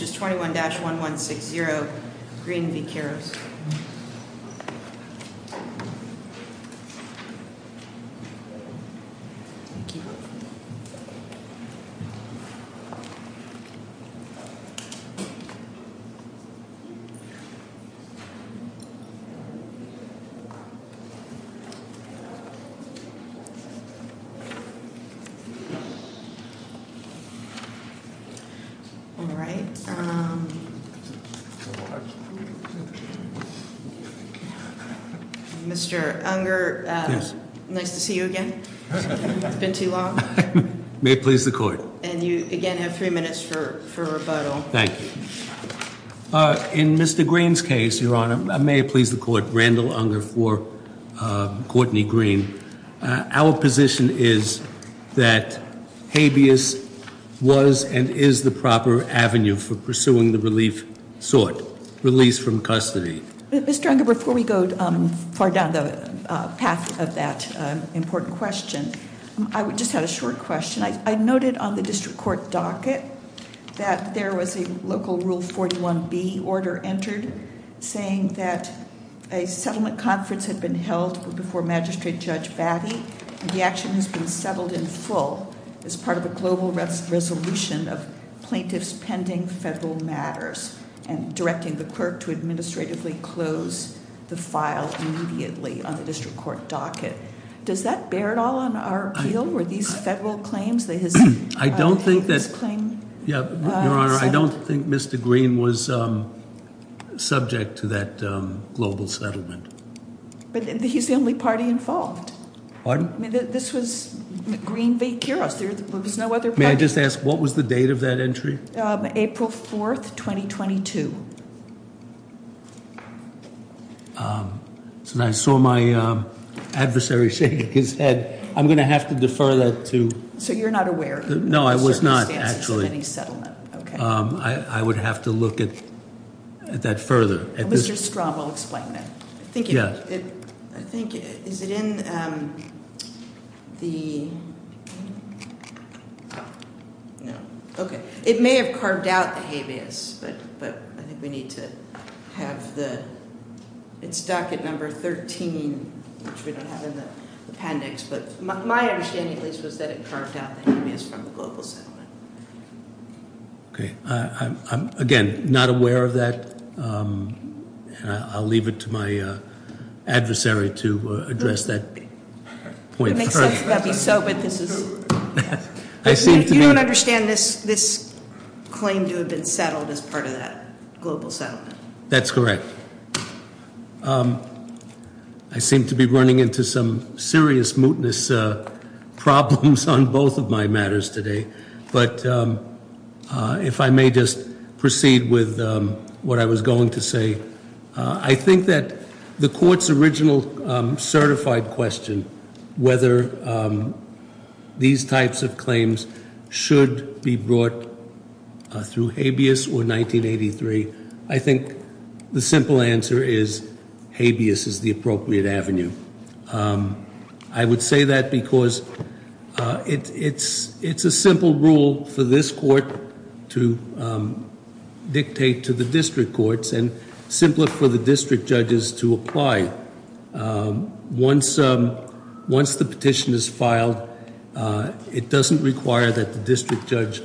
which is 21-1160 Green v. Quiros. Mr. Unger, nice to see you again. It's been too long. May it please the court. And you again have three minutes for rebuttal. Thank you. In Mr. Green's case, your honor, may it please the court, Randall Unger for Courtney Green. Our position is that habeas was and is the proper avenue for pursuing the relief sought, release from custody. Mr. Unger, before we go far down the path of that important question, I just had a short question. I noted on the district court docket that there was a local Rule 41B order entered saying that a settlement conference had been held before Magistrate Judge Batty. The action has been settled in full as part of a global resolution of plaintiffs pending federal matters and directing the clerk to administratively close the file immediately on the district court docket. Does that bear at all on our appeal or these federal claims? I don't think Mr. Green was subject to that global settlement. But he's the only party involved. This was Green v. Quiros. May I just ask what was the date of that entry? April 4th, 2022. I saw my adversary shaking his head. I'm going to have to defer that to- So you're not aware? No, I was not, actually. Of any settlement, okay. I would have to look at that further. Mr. Strom, I'll explain that. Yeah. I think, is it in the, no, okay. It may have carved out the habeas, but I think we need to have the, it's docket number 13, which we don't have in the appendix. But my understanding at least was that it carved out the habeas from the global settlement. Okay. I'm, again, not aware of that. I'll leave it to my adversary to address that point. It makes sense that that would be so, but this is- I seem to be- You don't understand this claim to have been settled as part of that global settlement. That's correct. I seem to be running into some serious mootness problems on both of my matters today. But if I may just proceed with what I was going to say. I think that the court's original certified question, whether these types of claims should be brought through habeas or 1983, I think the simple answer is habeas is the appropriate avenue. I would say that because it's a simple rule for this court to dictate to the district courts, and simpler for the district judges to apply. Once the petition is filed, it doesn't require that the district judge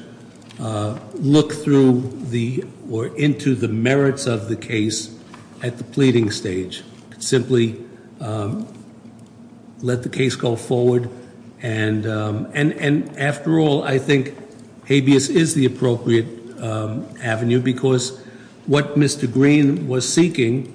look through or into the merits of the case at the pleading stage. Simply let the case go forward. And after all, I think habeas is the appropriate avenue, because what Mr. Green was seeking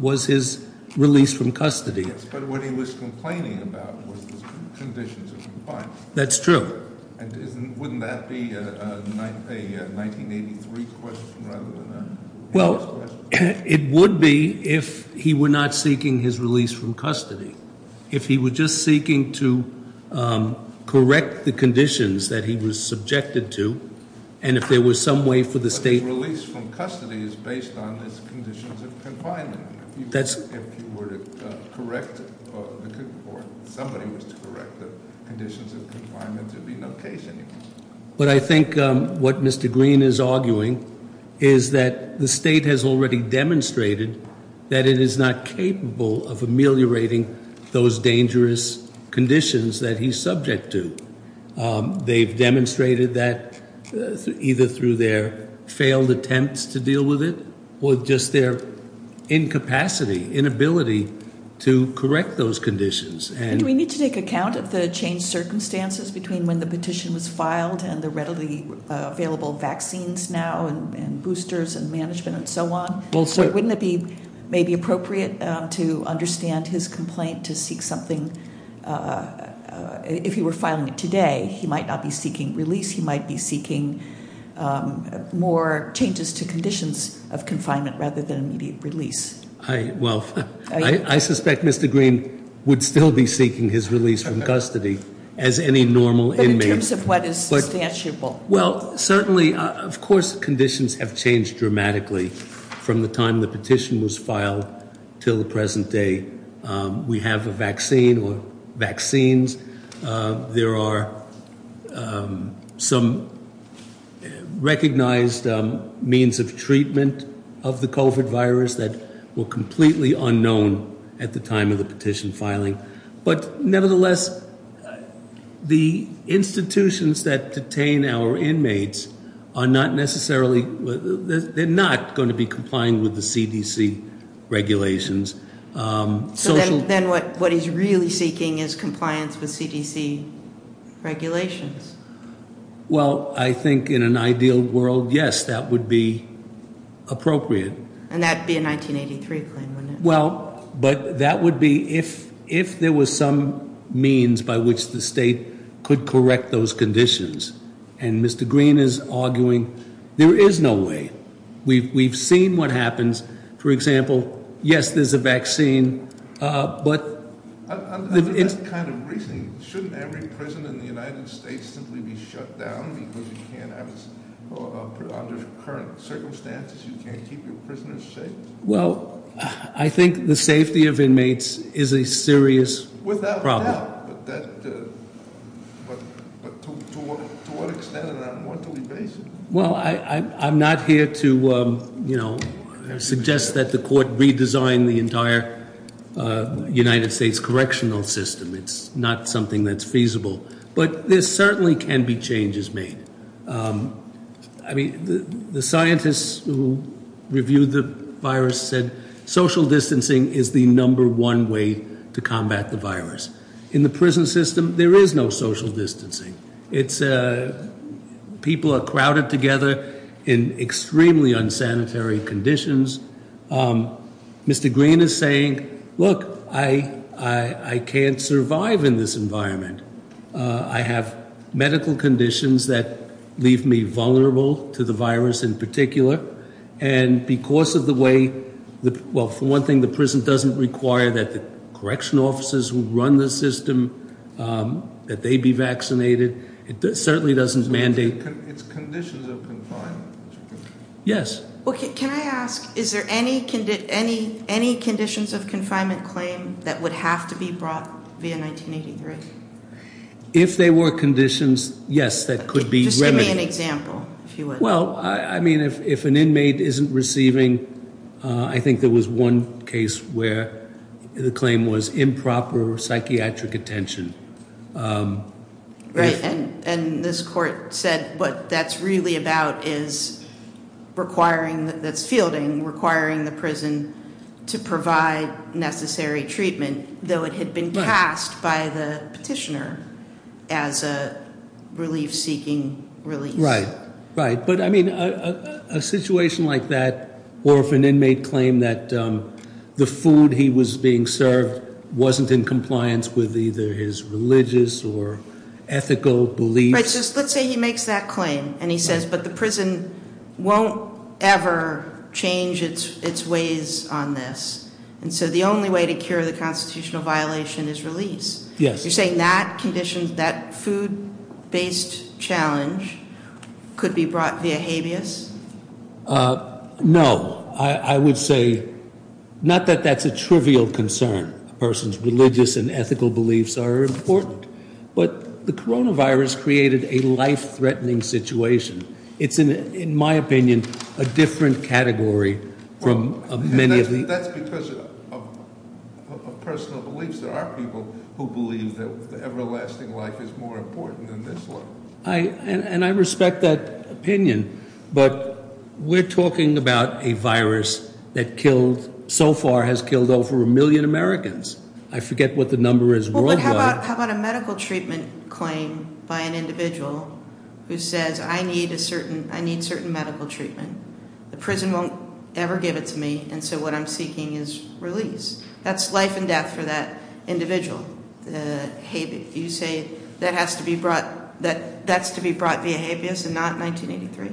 was his release from custody. Yes, but what he was complaining about was the conditions of compliance. That's true. And wouldn't that be a 1983 question rather than a habeas question? Well, it would be if he were not seeking his release from custody. If he were just seeking to correct the conditions that he was subjected to, and if there was some way for the state- But his release from custody is based on his conditions of confinement. That's- If you were to correct, or somebody was to correct the conditions of confinement, there'd be no case anymore. But I think what Mr. Green is arguing is that the state has already demonstrated that it is not capable of ameliorating those dangerous conditions that he's subject to. They've demonstrated that either through their failed attempts to deal with it or just their incapacity, inability to correct those conditions. Do we need to take account of the changed circumstances between when the petition was filed and the readily available vaccines now and boosters and management and so on? Wouldn't it be maybe appropriate to understand his complaint to seek something? If he were filing it today, he might not be seeking release. He might be seeking more changes to conditions of confinement rather than immediate release. Well, I suspect Mr. Green would still be seeking his release from custody as any normal inmate. But in terms of what is substantiable. Well, certainly, of course, conditions have changed dramatically from the time the petition was filed till the present day. We have a vaccine or vaccines. There are some recognized means of treatment of the COVID virus that were completely unknown at the time of the petition filing. But nevertheless, the institutions that detain our inmates are not necessarily, they're not going to be complying with the CDC regulations. So then what he's really seeking is compliance with CDC regulations. Well, I think in an ideal world, yes, that would be appropriate. And that would be a 1983 claim, wouldn't it? Well, but that would be if there was some means by which the state could correct those conditions. And Mr. Green is arguing there is no way. We've seen what happens. For example, yes, there's a vaccine, but- Under that kind of reasoning, shouldn't every prison in the United States simply be shut down because you can't have it under current circumstances? You can't keep your prisoners safe? Well, I think the safety of inmates is a serious problem. Without a doubt, but to what extent and on what basis? Well, I'm not here to suggest that the court redesign the entire United States correctional system. It's not something that's feasible. But there certainly can be changes made. I mean, the scientists who reviewed the virus said social distancing is the number one way to combat the virus. In the prison system, there is no social distancing. People are crowded together in extremely unsanitary conditions. Mr. Green is saying, look, I can't survive in this environment. I have medical conditions that leave me vulnerable to the virus in particular. And because of the way- Well, for one thing, the prison doesn't require that the correctional officers who run the system, that they be vaccinated. It certainly doesn't mandate- It's conditions of confinement. Yes. Can I ask, is there any conditions of confinement claim that would have to be brought via 1983? If there were conditions, yes, that could be remedied. Just give me an example, if you would. Well, I mean, if an inmate isn't receiving, I think there was one case where the claim was improper psychiatric attention. Right. And this court said what that's really about is requiring, that's fielding, requiring the prison to provide necessary treatment, though it had been passed by the petitioner as a relief-seeking relief. Right, right. But, I mean, a situation like that, or if an inmate claimed that the food he was being served wasn't in compliance with either his religious or ethical beliefs- Right, so let's say he makes that claim and he says, but the prison won't ever change its ways on this. And so the only way to cure the constitutional violation is release. Yes. You're saying that food-based challenge could be brought via habeas? No. I would say, not that that's a trivial concern. A person's religious and ethical beliefs are important. But the coronavirus created a life-threatening situation. It's, in my opinion, a different category from many of the- The everlasting life is more important than this one. And I respect that opinion. But we're talking about a virus that killed, so far has killed, over a million Americans. I forget what the number is worldwide. How about a medical treatment claim by an individual who says, I need certain medical treatment. The prison won't ever give it to me, and so what I'm seeking is release. That's life and death for that individual. You say that has to be brought, that's to be brought via habeas and not 1983?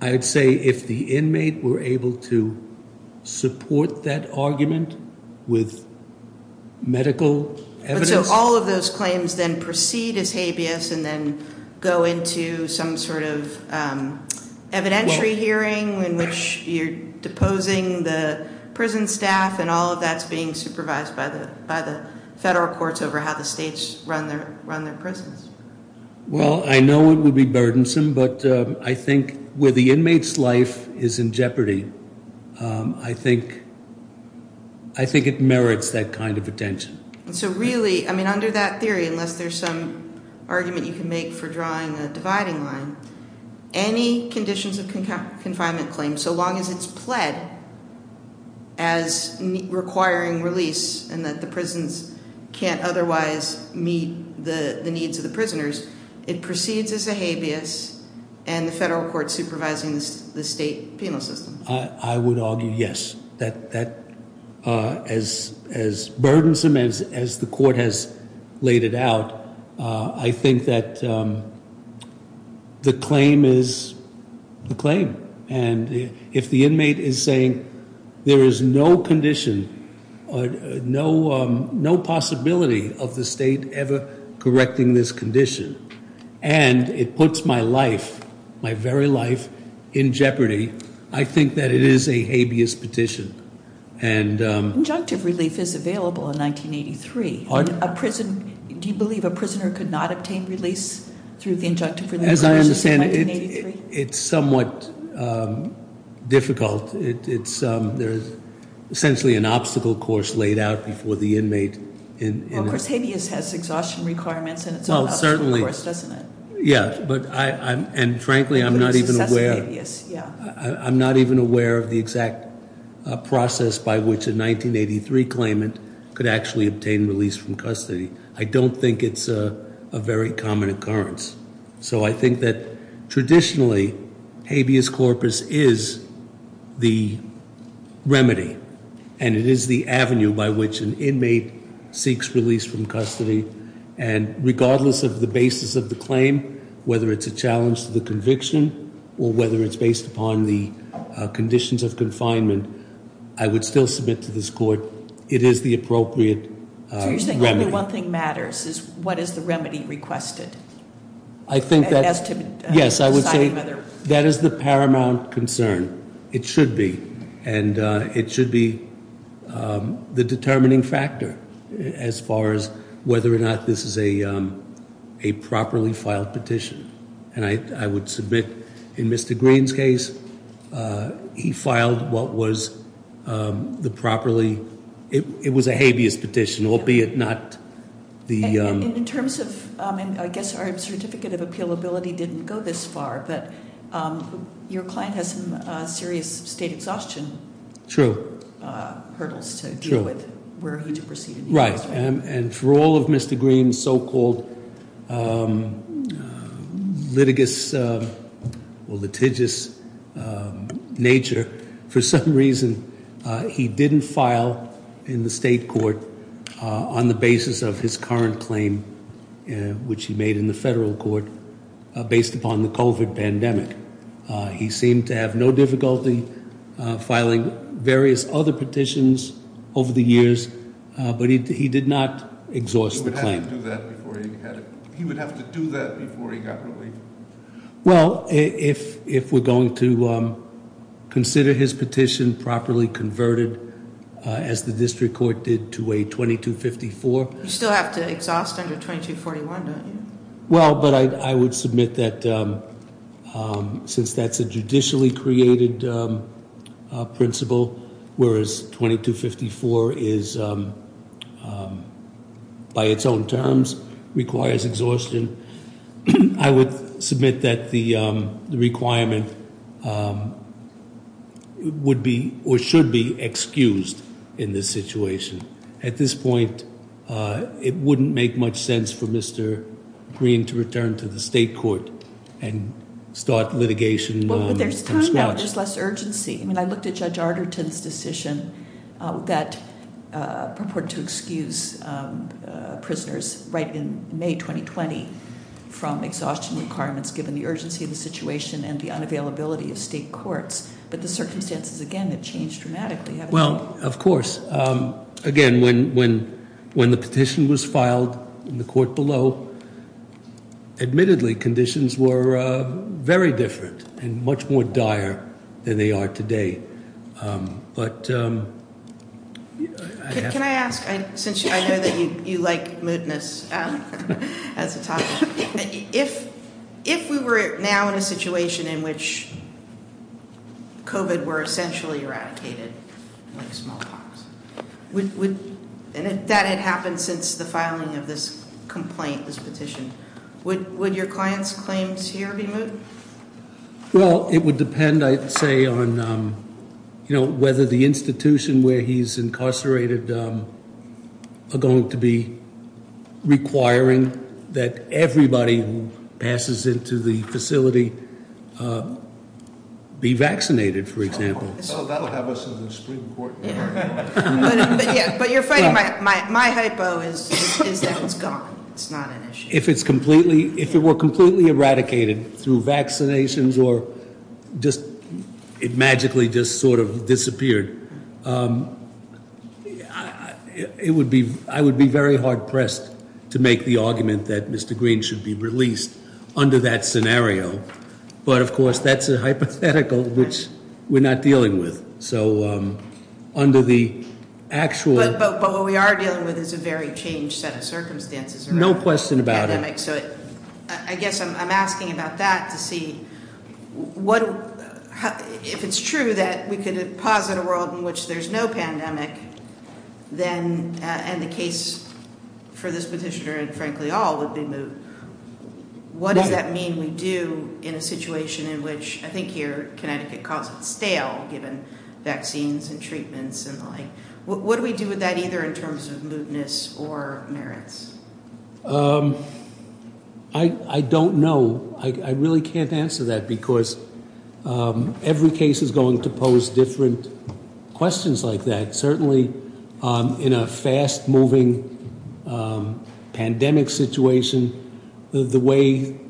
I would say if the inmate were able to support that argument with medical evidence- So all of those claims then proceed as habeas and then go into some sort of evidentiary hearing in which you're deposing the prison staff and all of that's being supervised by the federal courts over how the states run their prisons. Well, I know it would be burdensome, but I think where the inmate's life is in jeopardy, I think it merits that kind of attention. So really, under that theory, unless there's some argument you can make for drawing a dividing line, any conditions of confinement claim, so long as it's pled as requiring release and that the prisons can't otherwise meet the needs of the prisoners, it proceeds as a habeas and the federal courts supervising the state penal system. I would argue yes. As burdensome as the court has laid it out, I think that the claim is the claim. And if the inmate is saying there is no condition, no possibility of the state ever correcting this condition and it puts my life, my very life in jeopardy, I think that it is a habeas petition and- Injunctive relief is available in 1983. Pardon? Do you believe a prisoner could not obtain release through the injunctive relief process in 1983? As I understand it, it's somewhat difficult. There's essentially an obstacle course laid out before the inmate in- Well, of course, habeas has exhaustion requirements and it's an obstacle course, doesn't it? Yeah, and frankly, I'm not even aware of the exact process by which a 1983 claimant could actually obtain release from custody. I don't think it's a very common occurrence. So I think that traditionally, habeas corpus is the remedy, and it is the avenue by which an inmate seeks release from custody. And regardless of the basis of the claim, whether it's a challenge to the conviction or whether it's based upon the conditions of confinement, I would still submit to this court, it is the appropriate remedy. So you're saying only one thing matters, is what is the remedy requested? I think that- As to- Yes, I would say that is the paramount concern. It should be. And it should be the determining factor as far as whether or not this is a properly filed petition. And I would submit in Mr. Green's case, he filed what was the properly, it was a habeas petition, albeit not the- And in terms of, I guess our certificate of appealability didn't go this far, but your client has some serious state exhaustion- True. Hurdles to deal with. True. Were he to proceed- Right. And for all of Mr. Green's so-called litigious nature, for some reason he didn't file in the state court on the basis of his current claim, which he made in the federal court based upon the COVID pandemic. He seemed to have no difficulty filing various other petitions over the years, but he did not exhaust the claim. He would have to do that before he got relief. Well, if we're going to consider his petition properly converted, as the district court did to a 2254- You still have to exhaust under 2241, don't you? Well, but I would submit that since that's a judicially created principle, whereas 2254 is, by its own terms, requires exhaustion, I would submit that the requirement would be or should be excused in this situation. At this point, it wouldn't make much sense for Mr. Green to return to the state court and start litigation from scratch. Well, but there's time now. There's less urgency. I mean, I looked at Judge Arderton's decision that purported to excuse prisoners right in May 2020 from exhaustion requirements given the urgency of the situation and the unavailability of state courts. But the circumstances, again, have changed dramatically. Well, of course. Again, when the petition was filed in the court below, admittedly, conditions were very different and much more dire than they are today. But- Can I ask, since I know that you like moodiness as a topic, if we were now in a situation in which COVID were essentially eradicated like smallpox, and that had happened since the filing of this complaint, this petition, would your client's claims here be moot? Well, it would depend, I'd say, on whether the institution where he's incarcerated are going to be requiring that everybody who passes into the facility be vaccinated, for example. Oh, that will have us in the Supreme Court. But you're fighting my hypo is that it's gone. It's not an issue. If it were completely eradicated through vaccinations or it magically just sort of disappeared, I would be very hard-pressed to make the argument that Mr. Green should be released under that scenario. But, of course, that's a hypothetical which we're not dealing with. So under the actual- But what we are dealing with is a very changed set of circumstances. No question about it. So I guess I'm asking about that to see what, if it's true that we could posit a world in which there's no pandemic, then, and the case for this petitioner and, frankly, all would be moot. What does that mean we do in a situation in which, I think here, Connecticut calls it stale, given vaccines and treatments and the like? What do we do with that either in terms of mootness or merits? I don't know. I really can't answer that because every case is going to pose different questions like that. Certainly in a fast-moving pandemic situation, the way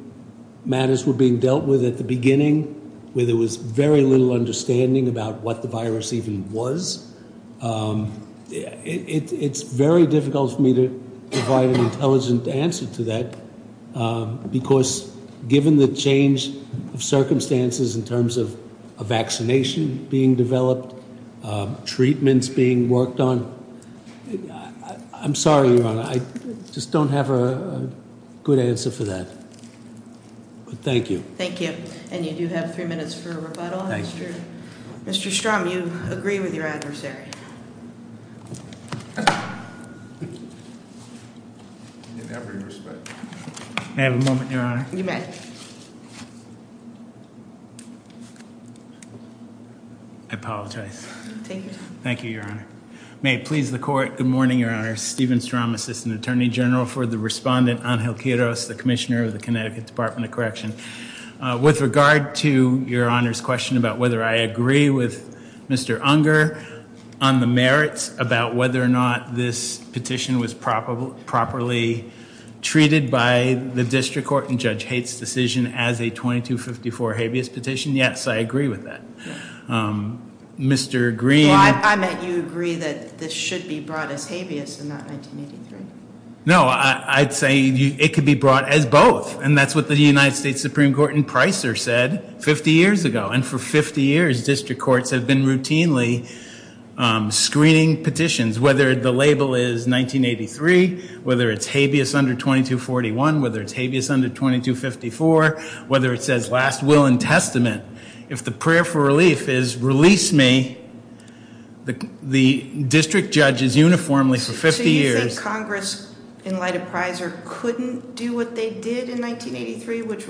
matters were being dealt with at the beginning, where there was very little understanding about what the virus even was. It's very difficult for me to provide an intelligent answer to that because given the change of circumstances in terms of a vaccination being developed, treatments being worked on, I'm sorry, Your Honor, I just don't have a good answer for that. But thank you. Thank you. And you do have three minutes for a rebuttal. Mr. Strom, you agree with your adversary? In every respect. May I have a moment, Your Honor? You may. I apologize. Take your time. Thank you, Your Honor. May it please the Court, good morning, Your Honor. I'm Stephen Strom, Assistant Attorney General for the respondent, Angel Quiroz, the Commissioner of the Connecticut Department of Correction. With regard to Your Honor's question about whether I agree with Mr. Unger on the merits about whether or not this petition was properly treated by the District Court in Judge Haight's decision as a 2254 habeas petition, yes, I agree with that. Mr. Green? I meant you agree that this should be brought as habeas and not 1983. No, I'd say it could be brought as both. And that's what the United States Supreme Court in Pricer said 50 years ago. And for 50 years, District Courts have been routinely screening petitions, whether the label is 1983, whether it's habeas under 2241, whether it's habeas under 2254, whether it says last will and testament. If the prayer for relief is release me, the district judges uniformly for 50 years. So you think Congress, in light of Pricer, couldn't do what they did in 1983, which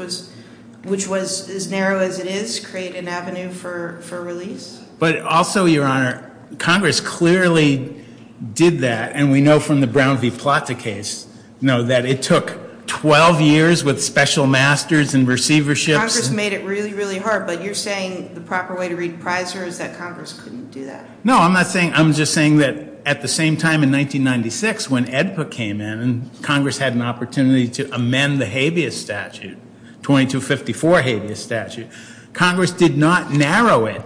was as narrow as it is, create an avenue for release? But also, Your Honor, Congress clearly did that, and we know from the Brown v. Plata case, you know, that it took 12 years with special masters and receiverships. Congress made it really, really hard, but you're saying the proper way to read Pricer is that Congress couldn't do that. No, I'm not saying that. I'm just saying that at the same time in 1996 when AEDPA came in and Congress had an opportunity to amend the habeas statute, 2254 habeas statute, Congress did not narrow it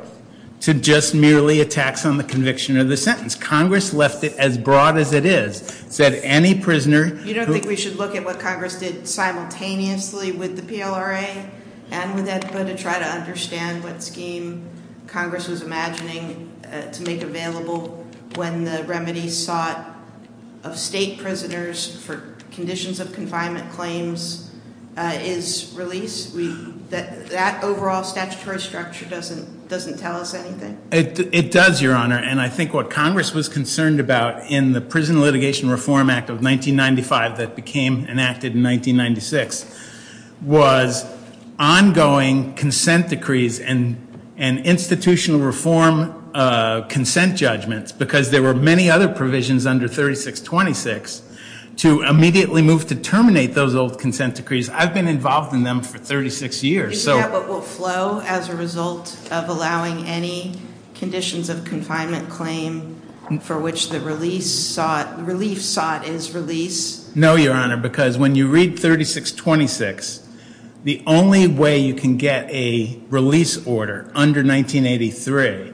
to just merely a tax on the conviction or the sentence. Congress left it as broad as it is, said any prisoner. You don't think we should look at what Congress did simultaneously with the PLRA and with AEDPA to try to understand what scheme Congress was imagining to make available when the remedy sought of state prisoners for conditions of confinement claims is release? That overall statutory structure doesn't tell us anything. It does, Your Honor. And I think what Congress was concerned about in the Prison Litigation Reform Act of 1995 that became enacted in 1996 was ongoing consent decrees and institutional reform consent judgments because there were many other provisions under 3626 to immediately move to terminate those old consent decrees. I've been involved in them for 36 years. Do you think that will flow as a result of allowing any conditions of confinement claim for which the relief sought is release? No, Your Honor, because when you read 3626 the only way you can get a release order under 1983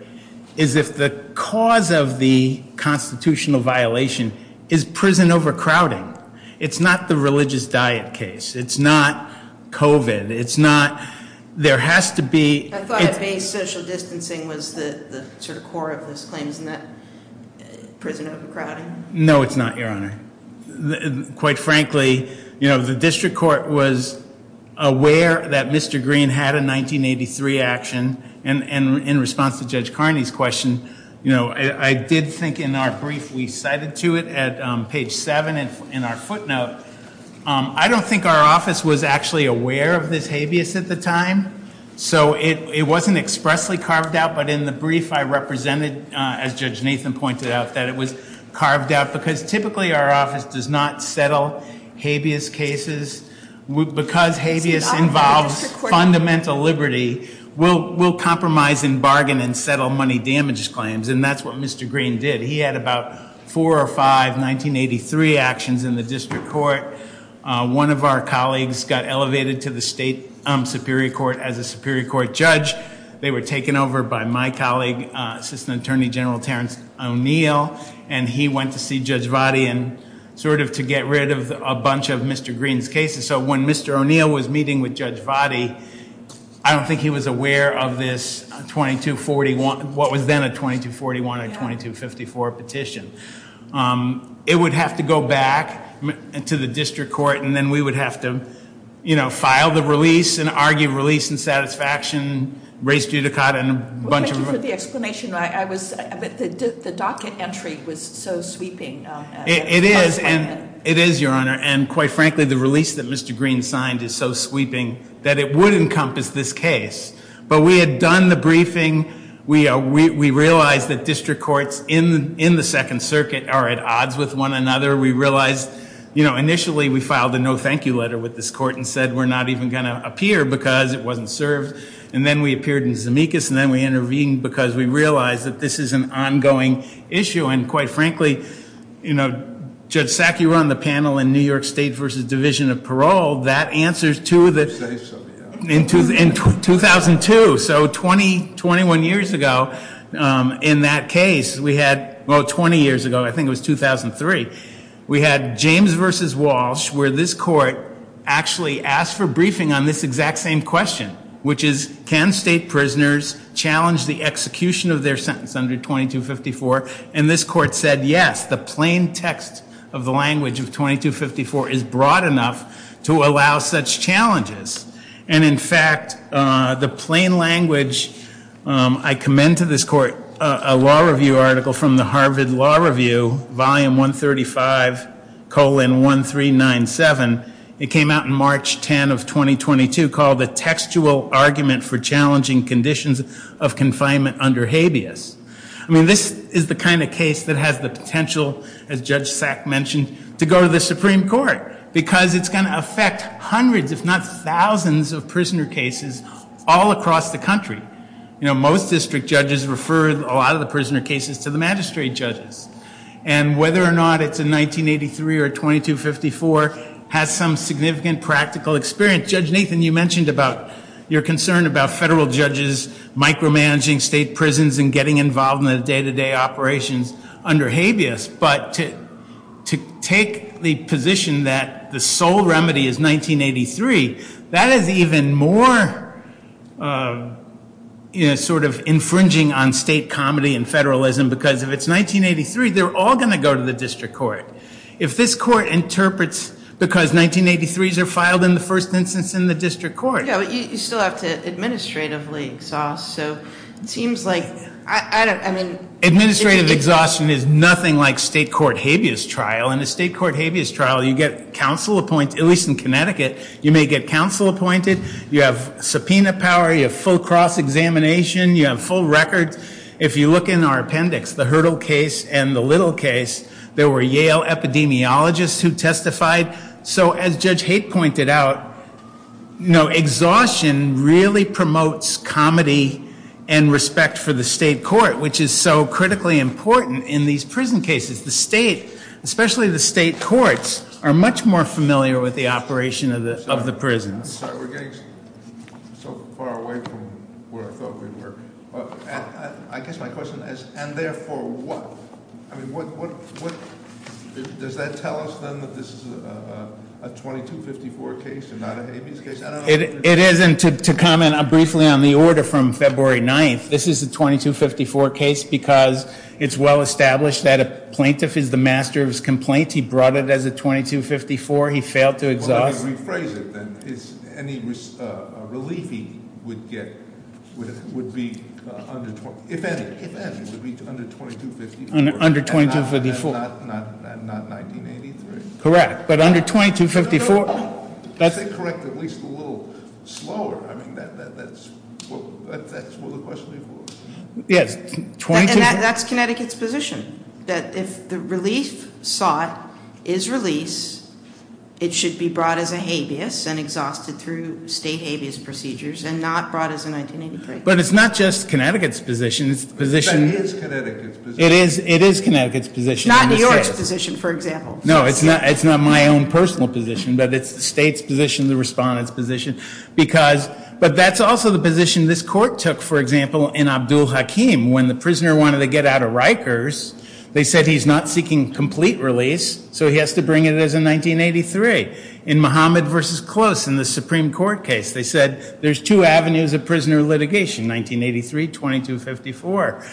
is if the cause of the constitutional violation is prison overcrowding. It's not the religious diet case. It's not COVID. It's not. There has to be. I thought it being social distancing was the sort of core of this claim, isn't it? Prison overcrowding. No, it's not, Your Honor. Quite frankly, you know, the district court was aware that Mr. Green had a 1983 action and in response to Judge Carney's question, you know, I did think in our brief we cited to it at page 7 in our footnote, I don't think our office was actually aware of this habeas at the time. So it wasn't expressly carved out, but in the brief I represented, as Judge Nathan pointed out, that it was carved out because typically our office does not settle habeas cases. Because habeas involves fundamental liberty, we'll compromise and bargain and settle money damage claims, and that's what Mr. Green did. He had about four or five 1983 actions in the district court. One of our colleagues got elevated to the state superior court as a superior court judge. They were taken over by my colleague, Assistant Attorney General Terrence O'Neill, and he went to see Judge Vahdie and sort of to get rid of a bunch of Mr. Green's cases. So when Mr. O'Neill was meeting with Judge Vahdie, I don't think he was aware of this 2241, what was then a 2241 or 2254 petition. It would have to go back to the district court, and then we would have to, you know, file the release and argue release and satisfaction, raise judicata and a bunch of- Thank you for the explanation. I was, the docket entry was so sweeping. It is, and it is, Your Honor, and quite frankly, the release that Mr. Green signed is so sweeping that it would encompass this case. But we had done the briefing. We realized that district courts in the Second Circuit are at odds with one another. We realized, you know, initially we filed a no thank you letter with this court and said we're not even going to appear because it wasn't served. And then we appeared in Zemeckis, and then we intervened because we realized that this is an ongoing issue. And quite frankly, you know, Judge Sack, you were on the panel in New York State v. Division of Parole. That answers to the- You say so, yeah. In 2002. So 20, 21 years ago in that case, we had, well, 20 years ago, I think it was 2003, we had James v. Walsh where this court actually asked for briefing on this exact same question, which is can state prisoners challenge the execution of their sentence under 2254? And this court said yes, the plain text of the language of 2254 is broad enough to allow such challenges. And in fact, the plain language, I commend to this court a law review article from the Harvard Law Review, Volume 135, colon 1397. It came out in March 10 of 2022 called The Textual Argument for Challenging Conditions of Confinement Under Habeas. I mean, this is the kind of case that has the potential, as Judge Sack mentioned, to go to the Supreme Court because it's going to affect hundreds if not thousands of prisoner cases all across the country. You know, most district judges refer a lot of the prisoner cases to the magistrate judges. And whether or not it's in 1983 or 2254 has some significant practical experience. Judge Nathan, you mentioned about your concern about federal judges micromanaging state prisons and getting involved in the day-to-day operations under habeas. But to take the position that the sole remedy is 1983, that is even more sort of infringing on state comedy and federalism because if it's 1983, they're all going to go to the district court. If this court interprets because 1983s are filed in the first instance in the district court. Yeah, but you still have to administratively exhaust. So it seems like, I don't, I mean. Administrative exhaustion is nothing like state court habeas trial. In a state court habeas trial, you get counsel appointed, at least in Connecticut, you may get counsel appointed. You have subpoena power. You have full cross-examination. You have full records. If you look in our appendix, the Hurdle case and the Little case, there were Yale epidemiologists who testified. So as Judge Haight pointed out, you know, exhaustion really promotes comedy and respect for the state court, which is so critically important in these prison cases. The state, especially the state courts, are much more familiar with the operation of the prisons. Sorry, we're getting so far away from where I thought we were. I guess my question is, and therefore what? I mean, what, does that tell us then that this is a 2254 case and not a habeas case? I don't know if you're- It is, and to comment briefly on the order from February 9th, this is a 2254 case because it's well established that a plaintiff is the master of his complaint. He brought it as a 2254. He failed to exhaust- Let me rephrase it then. Any relief he would get would be under, if any, would be under 2254. Under 2254. Not 1983? Correct. But under 2254- If they correct at least a little slower, I mean, that's what the question is for. Yes, 22- And that's Connecticut's position. That if the relief sought is release, it should be brought as a habeas and exhausted through state habeas procedures and not brought as a 1983. But it's not just Connecticut's position. It's the position- But that is Connecticut's position. It is Connecticut's position. Not New York's position, for example. No, it's not my own personal position, but it's the state's position, the respondent's position. But that's also the position this court took, for example, in Abdul Hakim. When the prisoner wanted to get out of Rikers, they said he's not seeking complete release, so he has to bring it as a 1983. In Muhammad v. Close, in the Supreme Court case, they said there's two avenues of prisoner litigation, 1983, 2254.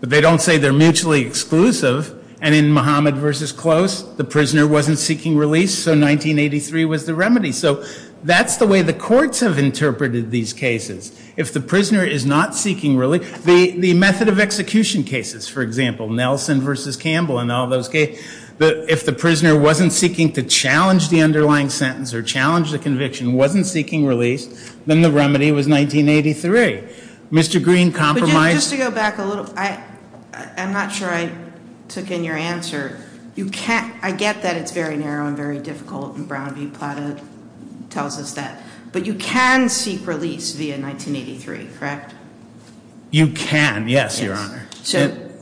But they don't say they're mutually exclusive. And in Muhammad v. Close, the prisoner wasn't seeking release, so 1983 was the remedy. So that's the way the courts have interpreted these cases. If the prisoner is not seeking release, the method of execution cases, for example, Nelson v. Campbell and all those cases, if the prisoner wasn't seeking to challenge the underlying sentence or challenge the conviction, wasn't seeking release, then the remedy was 1983. Mr. Green compromised- But, Jim, just to go back a little, I'm not sure I took in your answer. I get that it's very narrow and very difficult, and Brown v. Plata tells us that. But you can seek release via 1983, correct? You can, yes, Your Honor.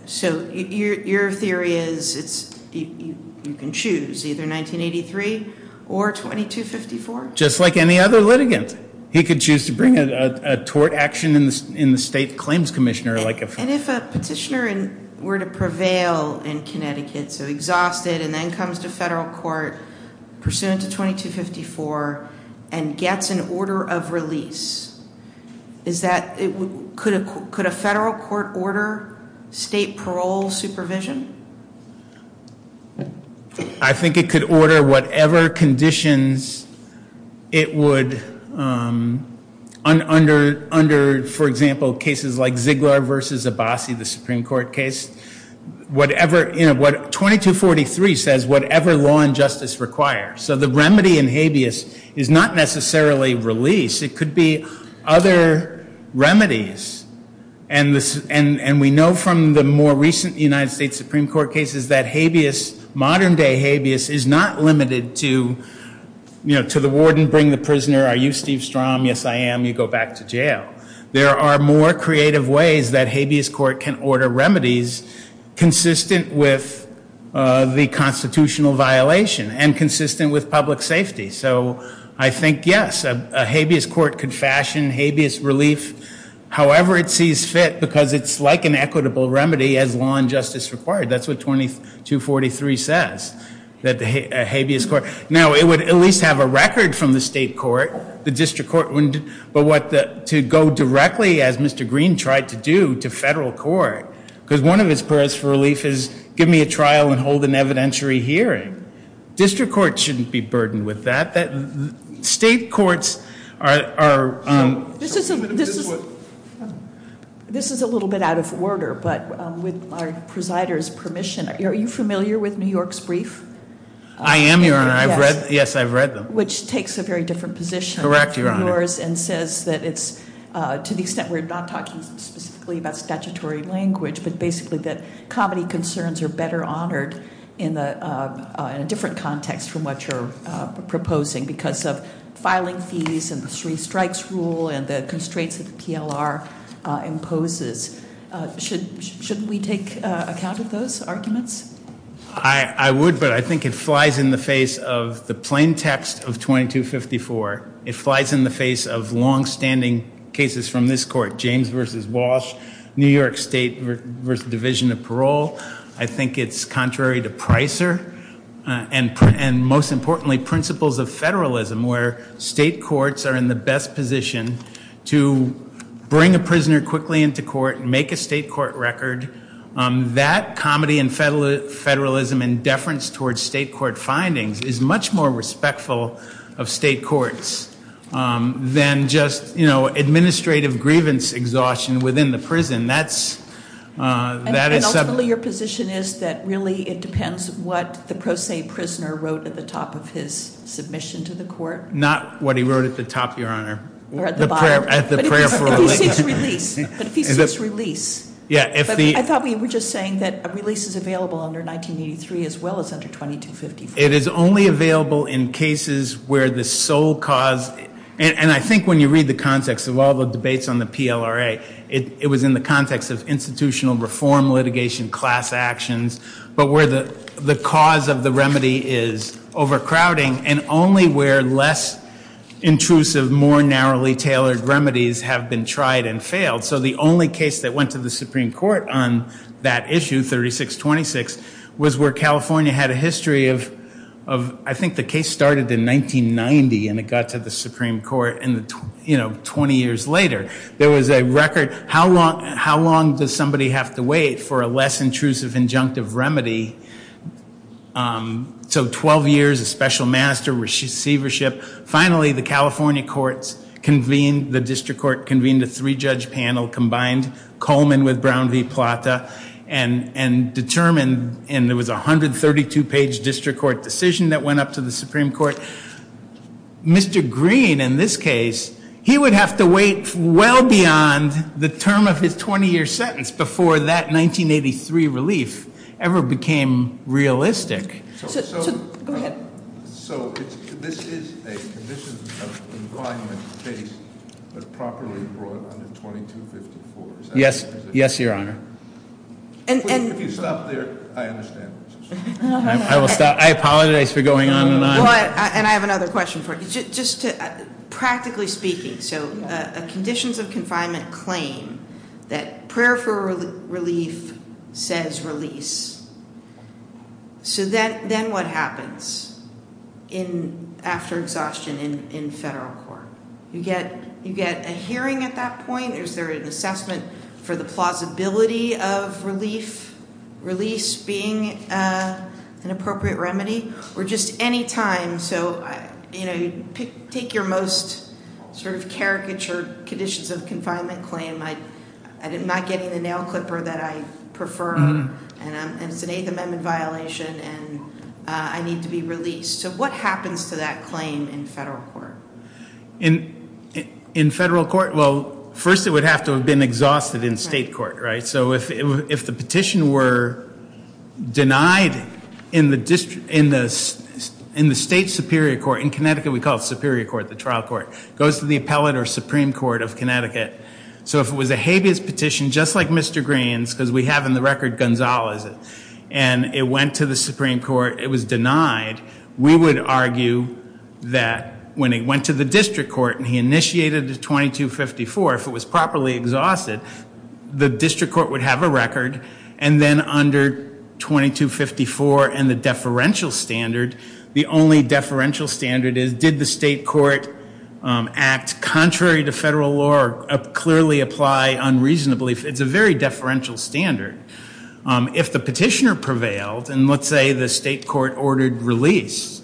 So your theory is you can choose, either 1983 or 2254? Just like any other litigant. He could choose to bring a tort action in the state claims commissioner, like a- If the prisoner were to prevail in Connecticut, so exhausted, and then comes to federal court, pursuant to 2254, and gets an order of release, could a federal court order state parole supervision? I think it could order whatever conditions it would, under, for example, cases like Ziegler v. Abbasi, the Supreme Court case. Whatever, you know, 2243 says whatever law and justice requires. So the remedy in habeas is not necessarily release. It could be other remedies. And we know from the more recent United States Supreme Court cases that habeas, modern-day habeas, is not limited to, you know, to the warden, bring the prisoner, are you Steve Strom? Yes, I am. You go back to jail. There are more creative ways that habeas court can order remedies consistent with the constitutional violation and consistent with public safety. So I think, yes, a habeas court could fashion habeas relief. However it sees fit, because it's like an equitable remedy as law and justice required. That's what 2243 says, that the habeas court. Now, it would at least have a record from the state court. The district court wouldn't, but what the, to go directly, as Mr. Green tried to do, to federal court. Because one of his prayers for relief is give me a trial and hold an evidentiary hearing. District courts shouldn't be burdened with that. State courts are- This is a little bit out of order, but with our presider's permission. Are you familiar with New York's brief? I am, Your Honor. Yes, I've read them. Which takes a very different position- Correct, Your Honor. And says that it's, to the extent we're not talking specifically about statutory language, but basically that comedy concerns are better honored in a different context from what you're proposing. Because of filing fees and the three strikes rule and the constraints that the PLR imposes. Shouldn't we take account of those arguments? I would, but I think it flies in the face of the plain text of 2254. It flies in the face of longstanding cases from this court. James v. Walsh, New York State v. Division of Parole. I think it's contrary to Pricer. And most importantly, principles of federalism where state courts are in the best position to bring a prisoner quickly into court and make a state court record. That comedy and federalism and deference towards state court findings is much more respectful of state courts than just administrative grievance exhaustion within the prison. And ultimately your position is that really it depends what the pro se prisoner wrote at the top of his submission to the court? Not what he wrote at the top, Your Honor. Or at the bottom. At the prayer for release. But if he says release. Yeah. I thought we were just saying that a release is available under 1983 as well as under 2254. It is only available in cases where the sole cause. And I think when you read the context of all the debates on the PLRA, it was in the context of institutional reform, litigation, class actions. But where the cause of the remedy is overcrowding and only where less intrusive, more narrowly tailored remedies have been tried and failed. So the only case that went to the Supreme Court on that issue, 3626, was where California had a history of, I think the case started in 1990 and it got to the Supreme Court 20 years later. There was a record, how long does somebody have to wait for a less intrusive injunctive remedy? So 12 years of special master receivership. Finally, the California courts convened, the district court convened a three-judge panel, combined Coleman with Brown v. Plata, and determined, and there was a 132-page district court decision that went up to the Supreme Court. Mr. Green, in this case, he would have to wait well beyond the term of his 20-year sentence before that 1983 relief ever became realistic. Go ahead. So this is a condition of confinement case that properly brought under 2254, is that correct? Yes, yes, your honor. If you stop there, I understand. I will stop. I apologize for going on and on. And I have another question for you. Practically speaking, so conditions of confinement claim that prayer for relief says release. So then what happens after exhaustion in federal court? You get a hearing at that point? Is there an assessment for the plausibility of relief, release being an appropriate remedy? Or just any time, so take your most sort of caricature conditions of confinement claim. I'm not getting the nail clipper that I prefer, and it's an Eighth Amendment violation, and I need to be released. So what happens to that claim in federal court? In federal court? Well, first it would have to have been exhausted in state court, right? So if the petition were denied in the state superior court, in Connecticut we call it superior court, the trial court. It goes to the appellate or supreme court of Connecticut. So if it was a habeas petition, just like Mr. Green's, because we have in the record Gonzales, and it went to the supreme court, it was denied, we would argue that when it went to the district court and he initiated the 2254, if it was properly exhausted, the district court would have a record, and then under 2254 and the deferential standard, the only deferential standard is, did the state court act contrary to federal law or clearly apply unreasonably? It's a very deferential standard. If the petitioner prevailed, and let's say the state court ordered release,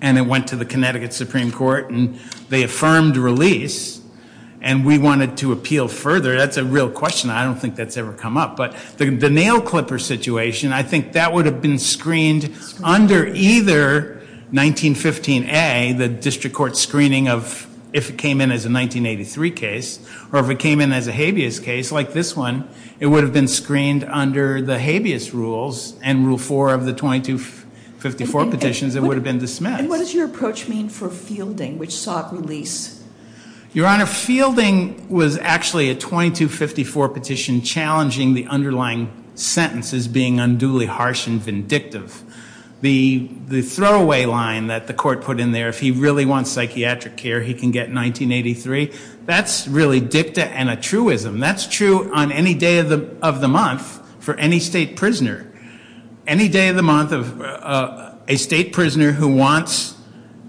and it went to the Connecticut supreme court and they affirmed release, and we wanted to appeal further, that's a real question. I don't think that's ever come up. But the nail clipper situation, I think that would have been screened under either 1915A, the district court screening of if it came in as a 1983 case, or if it came in as a habeas case like this one, it would have been screened under the habeas rules, and rule four of the 2254 petitions, it would have been dismissed. And what does your approach mean for Fielding, which sought release? Your Honor, Fielding was actually a 2254 petition challenging the underlying sentence as being unduly harsh and vindictive. The throwaway line that the court put in there, if he really wants psychiatric care, he can get 1983, that's really dicta and a truism. That's true on any day of the month for any state prisoner. Any day of the month of a state prisoner who wants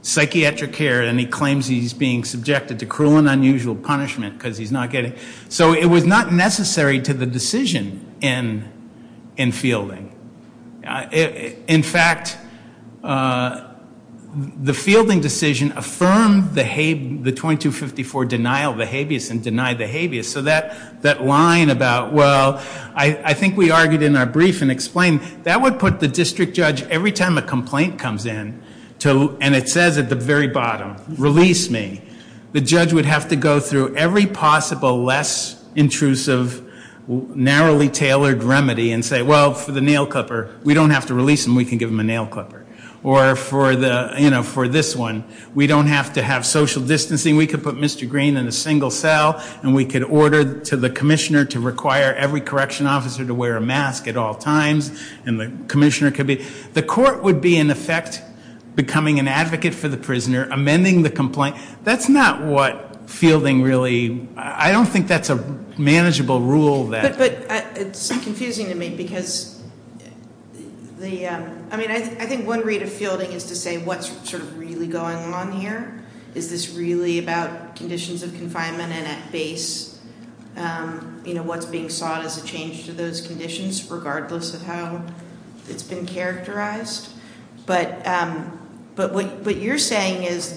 psychiatric care and he claims he's being subjected to cruel and unusual punishment because he's not getting it. So it was not necessary to the decision in Fielding. In fact, the Fielding decision affirmed the 2254 denial of the habeas and denied the habeas. So that line about, well, I think we argued in our brief and explained, that would put the district judge, every time a complaint comes in, and it says at the very bottom, release me, the judge would have to go through every possible less intrusive, narrowly tailored remedy and say, well, for the nail clipper, we don't have to release him, we can give him a nail clipper. Or for this one, we don't have to have social distancing, we could put Mr. Green in a single cell and we could order to the commissioner to require every correction officer to wear a mask at all times. And the commissioner could be, the court would be in effect becoming an advocate for the prisoner, amending the complaint. That's not what Fielding really, I don't think that's a manageable rule that. But it's confusing to me because the, I mean, I think one read of Fielding is to say what's sort of really going on here. Is this really about conditions of confinement and at base, you know, what's being sought as a change to those conditions, regardless of how it's been characterized. But what you're saying is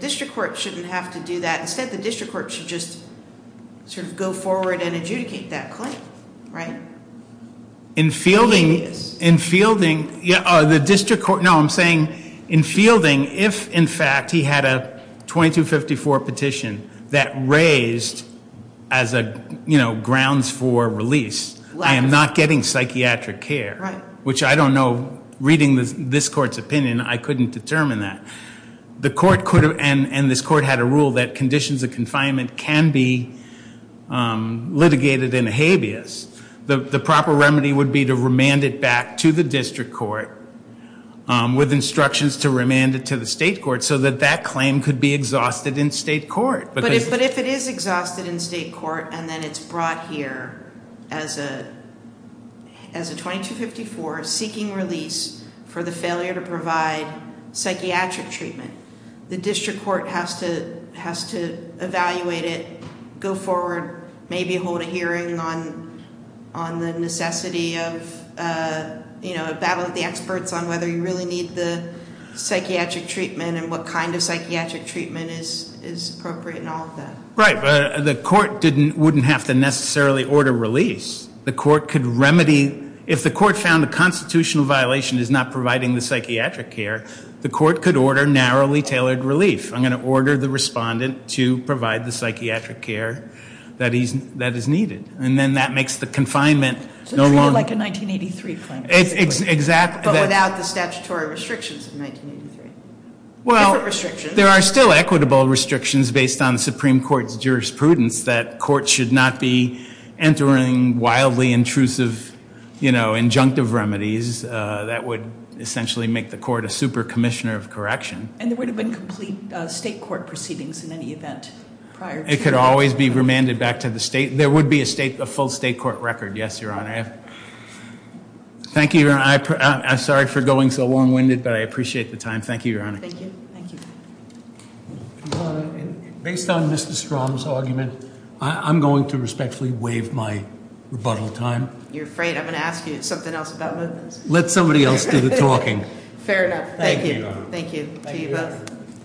district court shouldn't have to do that, instead the district court should just sort of go forward and adjudicate that claim, right? In Fielding, in Fielding, the district court, no I'm saying in Fielding, if in fact he had a 2254 petition that raised as a, you know, grounds for release, I am not getting psychiatric care, which I don't know, reading this court's opinion, I couldn't determine that. The court could have, and this court had a rule that conditions of confinement can be litigated in a habeas. The proper remedy would be to remand it back to the district court with instructions to remand it to the state court, so that that claim could be exhausted in state court. But if it is exhausted in state court, and then it's brought here as a 2254, seeking release for the failure to provide psychiatric treatment, the district court has to evaluate it, go forward, maybe hold a hearing on the necessity of, you know, a battle of the experts on whether you really need the psychiatric treatment and what kind of psychiatric treatment is appropriate and all of that. Right, but the court wouldn't have to necessarily order release. The court could remedy, if the court found a constitutional violation is not providing the psychiatric care, the court could order narrowly tailored relief. I'm going to order the respondent to provide the psychiatric care that is needed. And then that makes the confinement no longer- So it's more like a 1983 claim. Exactly. But without the statutory restrictions of 1983. Well, there are still equitable restrictions based on the Supreme Court's jurisprudence that courts should not be entering wildly intrusive, you know, injunctive remedies that would essentially make the court a super commissioner of correction. And there would have been complete state court proceedings in any event prior to- It could always be remanded back to the state. There would be a full state court record, yes, Your Honor. Thank you, Your Honor. I'm sorry for going so long-winded, but I appreciate the time. Thank you, Your Honor. Thank you. Based on Mr. Strom's argument, I'm going to respectfully waive my rebuttal time. You're afraid I'm going to ask you something else about movements? Let somebody else do the talking. Fair enough. Thank you. Thank you to you both.